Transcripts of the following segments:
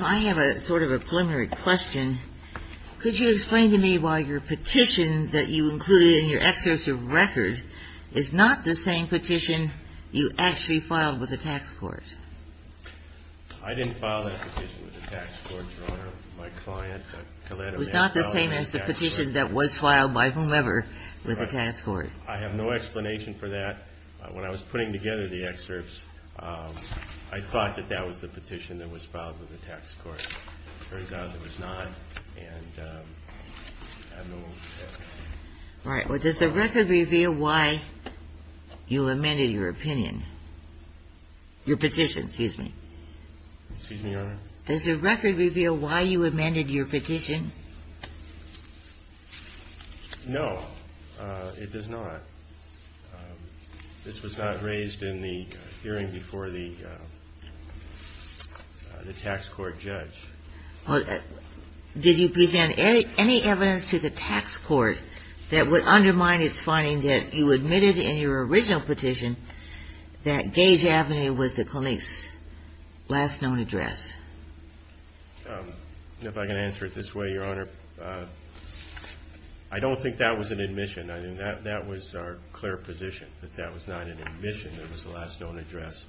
I have a sort of a preliminary question. Could you explain to me why your petition that you included in your excerpt of record is not the same petition you actually filed with the tax court? I didn't file that petition with the tax court, Your Honor. My client, Collette, filed it with the tax court. It was not the same as the petition that was filed by whomever with the tax court? I have no explanation for that. When I was putting together the excerpts, I thought that that was the petition that was filed with the tax court. It turns out it was not. All right. Well, does the record reveal why you amended your opinion? Your petition, excuse me. Excuse me, Your Honor? Does the record reveal why you amended your petition? No, it does not. This was not raised in the hearing before the tax court judge. Did you present any evidence to the tax court that would undermine its finding that you admitted in your original petition that Gage Avenue was the clinic's last known address? If I can answer it this way, Your Honor, I don't think that was an admission. I mean, that was our clear position that that was not an admission. It was the last known address.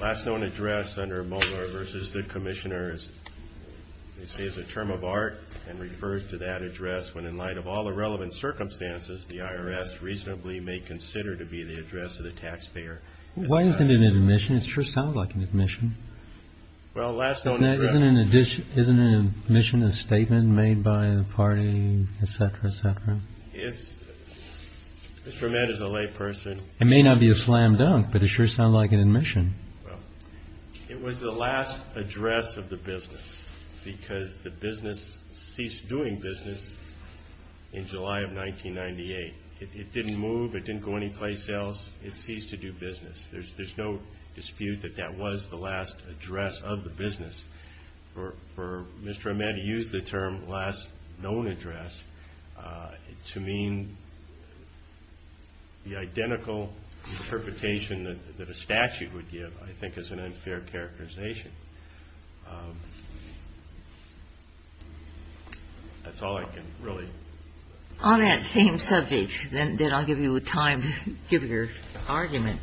Last known address under Mueller versus the Commissioner is a term of art and refers to that address when, in light of all the relevant circumstances, the IRS reasonably may consider to be the address of the taxpayer. Why isn't it an admission? It sure sounds like an admission. Well, last known address. Isn't an admission a statement made by a party, et cetera, et cetera? Mr. Vermette is a layperson. It may not be a slam dunk, but it sure sounds like an admission. It was the last address of the business because the business ceased doing business in July of 1998. It didn't move. It didn't go anyplace else. It ceased to do business. There's no dispute that that was the last address of the business. For Mr. Vermette to use the term last known address to mean the identical interpretation that a statute would give, I think, is an unfair characterization. That's all I can really say. Then I'll give you time to give your argument.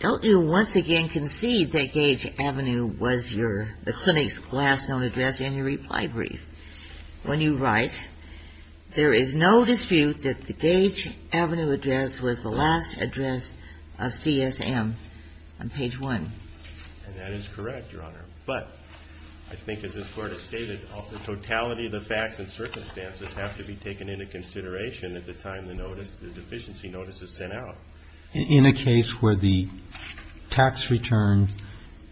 Don't you once again concede that Gage Avenue was the clinic's last known address in your reply brief? When you write, there is no dispute that the Gage Avenue address was the last address of CSM on page 1. And that is correct, Your Honor. But I think, as this Court has stated, the totality of the facts and circumstances have to be taken into consideration at the time the notice, the deficiency notice, is sent out. In a case where the tax return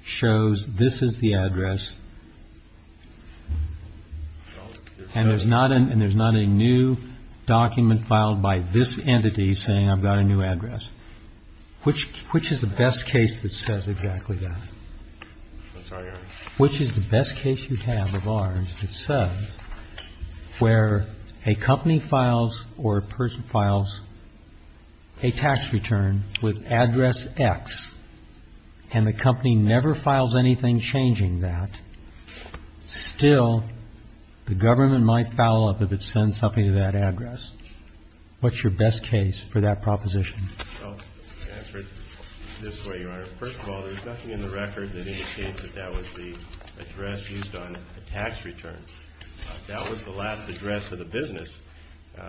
shows this is the address and there's not a new document filed by this entity saying I've got a new address, which is the best case that says exactly that? That's right, Your Honor. Which is the best case you have of ours that says where a company files or a person files a tax return with address X and the company never files anything changing that, still the government might foul up if it sends something to that address. What's your best case for that proposition? I'll answer it this way, Your Honor. First of all, there's nothing in the record that indicates that that was the address used on a tax return. That was the last address of the business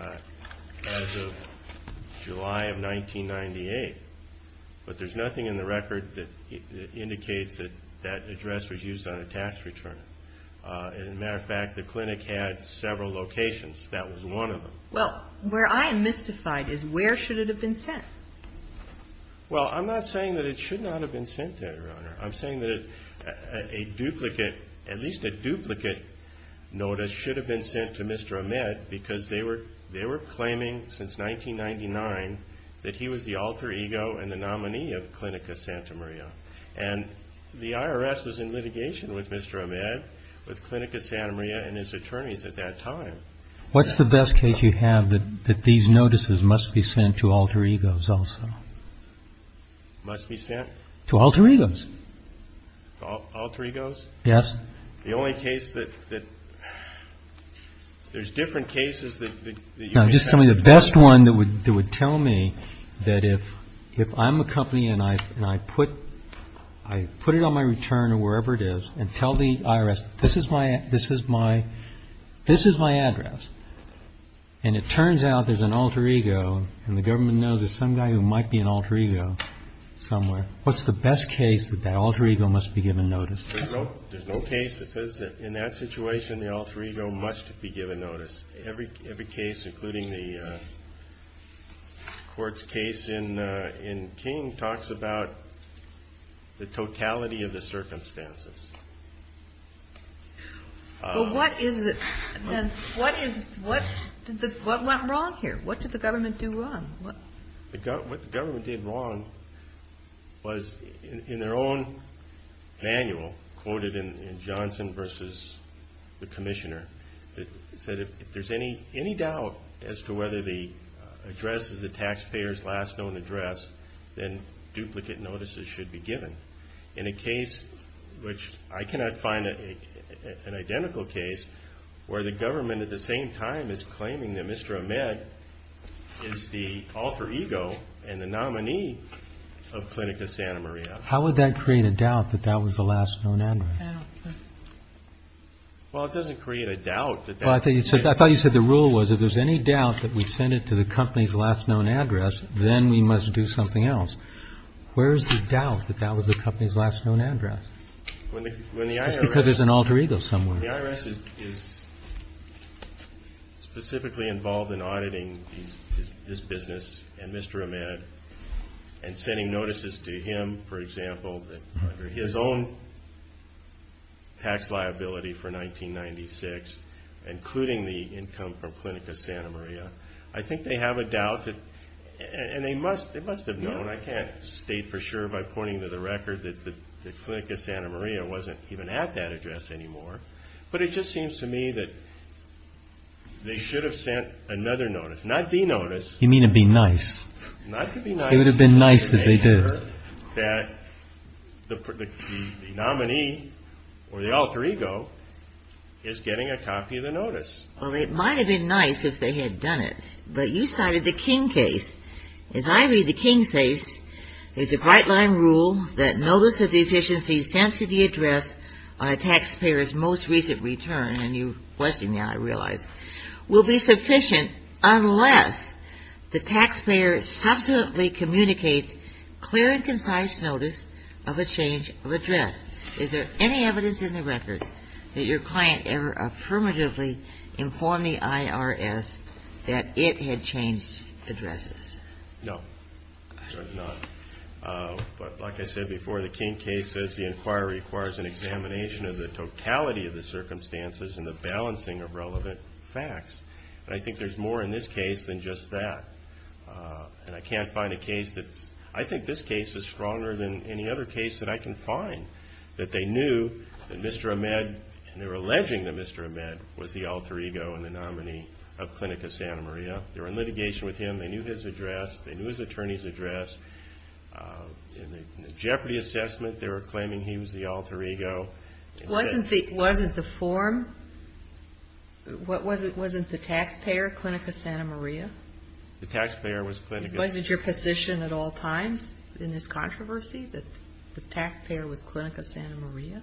as of July of 1998. But there's nothing in the record that indicates that that address was used on a tax return. As a matter of fact, the clinic had several locations. That was one of them. Well, where I am mystified is where should it have been sent? Well, I'm not saying that it should not have been sent there, Your Honor. I'm saying that a duplicate, at least a duplicate notice, should have been sent to Mr. Ahmed because they were claiming since 1999 that he was the alter ego and the nominee of Clinica Santa Maria. And the IRS was in litigation with Mr. Ahmed, with Clinica Santa Maria and his attorneys at that time. What's the best case you have that these notices must be sent to alter egos also? Must be sent? To alter egos. Alter egos? Yes. The only case that there's different cases that you may have. Just tell me the best one that would tell me that if I'm a company and I put it on my return or wherever it is and tell the IRS, this is my this is my this is my address. And it turns out there's an alter ego and the government knows there's some guy who might be an alter ego somewhere. What's the best case that that alter ego must be given notice? There's no case that says that in that situation, the alter ego must be given notice. Every case, including the court's case in King, talks about the totality of the circumstances. What went wrong here? What did the government do wrong? What the government did wrong was in their own manual quoted in Johnson versus the commissioner, it said if there's any any doubt as to whether the address is the taxpayer's last known address, then duplicate notices should be given in a case which I cannot find an identical case where the government at the same time is claiming that Mr. Ahmed is the alter ego and the nominee of Clinica Santa Maria. How would that create a doubt that that was the last known address? Well, it doesn't create a doubt. Well, I think I thought you said the rule was if there's any doubt that we send it to the company's last known address, then we must do something else. Where's the doubt that that was the company's last known address? When the IRS because there's an alter ego somewhere. The IRS is specifically involved in auditing this business and Mr. Ahmed and sending notices to him, for example, under his own tax liability for 1996, including the income from Clinica Santa Maria. I think they have a doubt. And they must they must have known. I can't state for sure by pointing to the record that the Clinica Santa Maria wasn't even at that address anymore. But it just seems to me that they should have sent another notice, not the notice. You mean to be nice? Not to be nice. It would have been nice if they did. I'm sure that the nominee or the alter ego is getting a copy of the notice. Well, it might have been nice if they had done it. But you cited the King case. As I read the King case, there's a bright line rule that notice of deficiency sent to the address on a taxpayer's most recent return, and you blessing me, I realize, will be sufficient unless the taxpayer subsequently communicates clear and concise notice of a change of address. Is there any evidence in the record that your client ever affirmatively informed the IRS that it had changed addresses? No, there's not. But like I said before, the King case says the inquiry requires an examination of the totality of the circumstances and the balancing of relevant facts. And I think there's more in this case than just that. And I can't find a case that's, I think this case is stronger than any other case that I can find, that they knew that Mr. Ahmed, and they were alleging that Mr. Ahmed was the alter ego and the nominee of Clinica Santa Maria. They were in litigation with him. They knew his address. They knew his attorney's address. In the jeopardy assessment, they were claiming he was the alter ego. Wasn't the form, wasn't the taxpayer Clinica Santa Maria? The taxpayer was Clinica. Wasn't your position at all times in this controversy that the taxpayer was Clinica Santa Maria?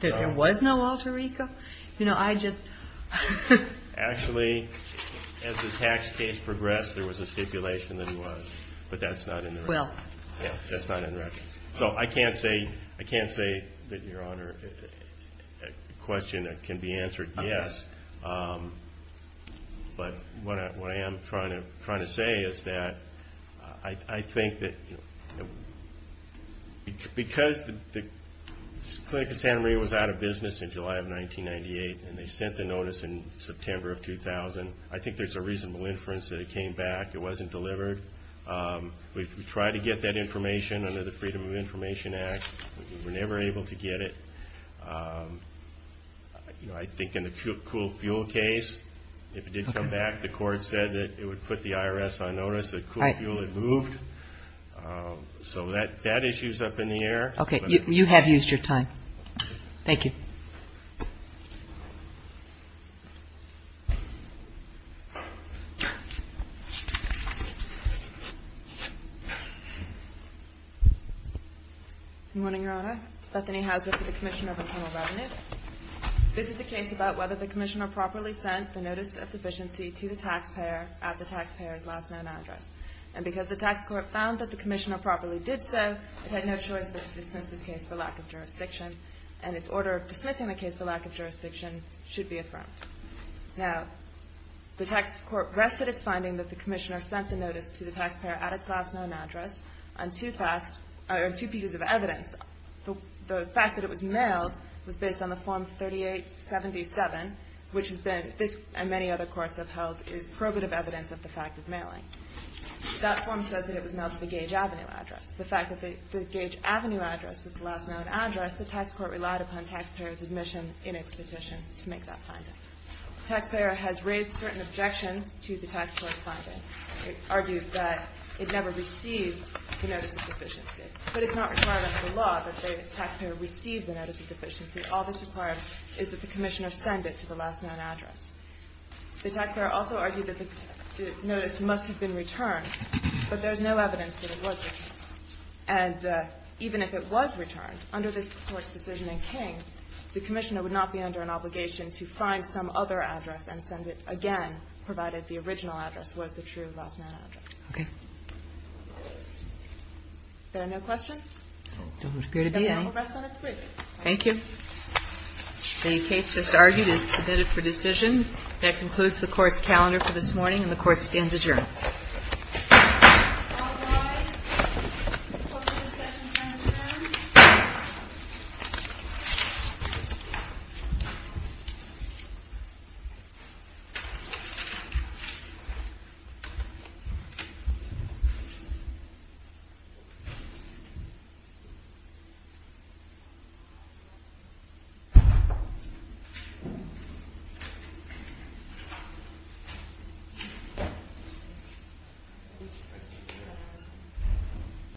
That there was no alter ego? You know, I just. Actually, as the tax case progressed, there was a stipulation that he was. But that's not in the record. Well. Yeah, that's not in the record. So I can't say that, Your Honor, a question that can be answered, yes. But what I am trying to say is that I think that because the Clinica Santa Maria was out of business in July of 1998 and they sent the notice in September of 2000, I think there's a reasonable inference that it came back. It wasn't delivered. We tried to get that information under the Freedom of Information Act. We were never able to get it. I think in the cool fuel case, if it did come back, the court said that it would put the IRS on notice that cool fuel had moved. So that issue is up in the air. Okay. You have used your time. Thank you. Good morning, Your Honor. Bethany Hazlitt with the Commission of Internal Revenue. This is a case about whether the commissioner properly sent the notice of deficiency to the taxpayer at the taxpayer's last known address. And because the tax court found that the commissioner properly did so, it had no choice but to dismiss this case for lack of jurisdiction. And its order of dismissing the case for lack of jurisdiction should be affirmed. Now, the tax court rested its finding that the commissioner sent the notice to the taxpayer at its last known address on two pieces of evidence. The fact that it was mailed was based on the Form 3877, which has been, this and many other courts have held, That form says that it was mailed to the Gage Avenue address. The fact that the Gage Avenue address was the last known address, the tax court relied upon taxpayers' admission in its petition to make that finding. The taxpayer has raised certain objections to the tax court's finding. It argues that it never received the notice of deficiency. But it's not required under the law that the taxpayer receive the notice of deficiency. All that's required is that the commissioner send it to the last known address. The taxpayer also argued that the notice must have been returned, but there's no evidence that it was returned. And even if it was returned, under this court's decision in King, the commissioner would not be under an obligation to find some other address and send it again, provided the original address was the true last known address. Okay. Are there no questions? There don't appear to be any. Then we'll rest on its brief. Thank you. The case just argued is submitted for decision. That concludes the Court's calendar for this morning, and the Court stands adjourned. Thank you.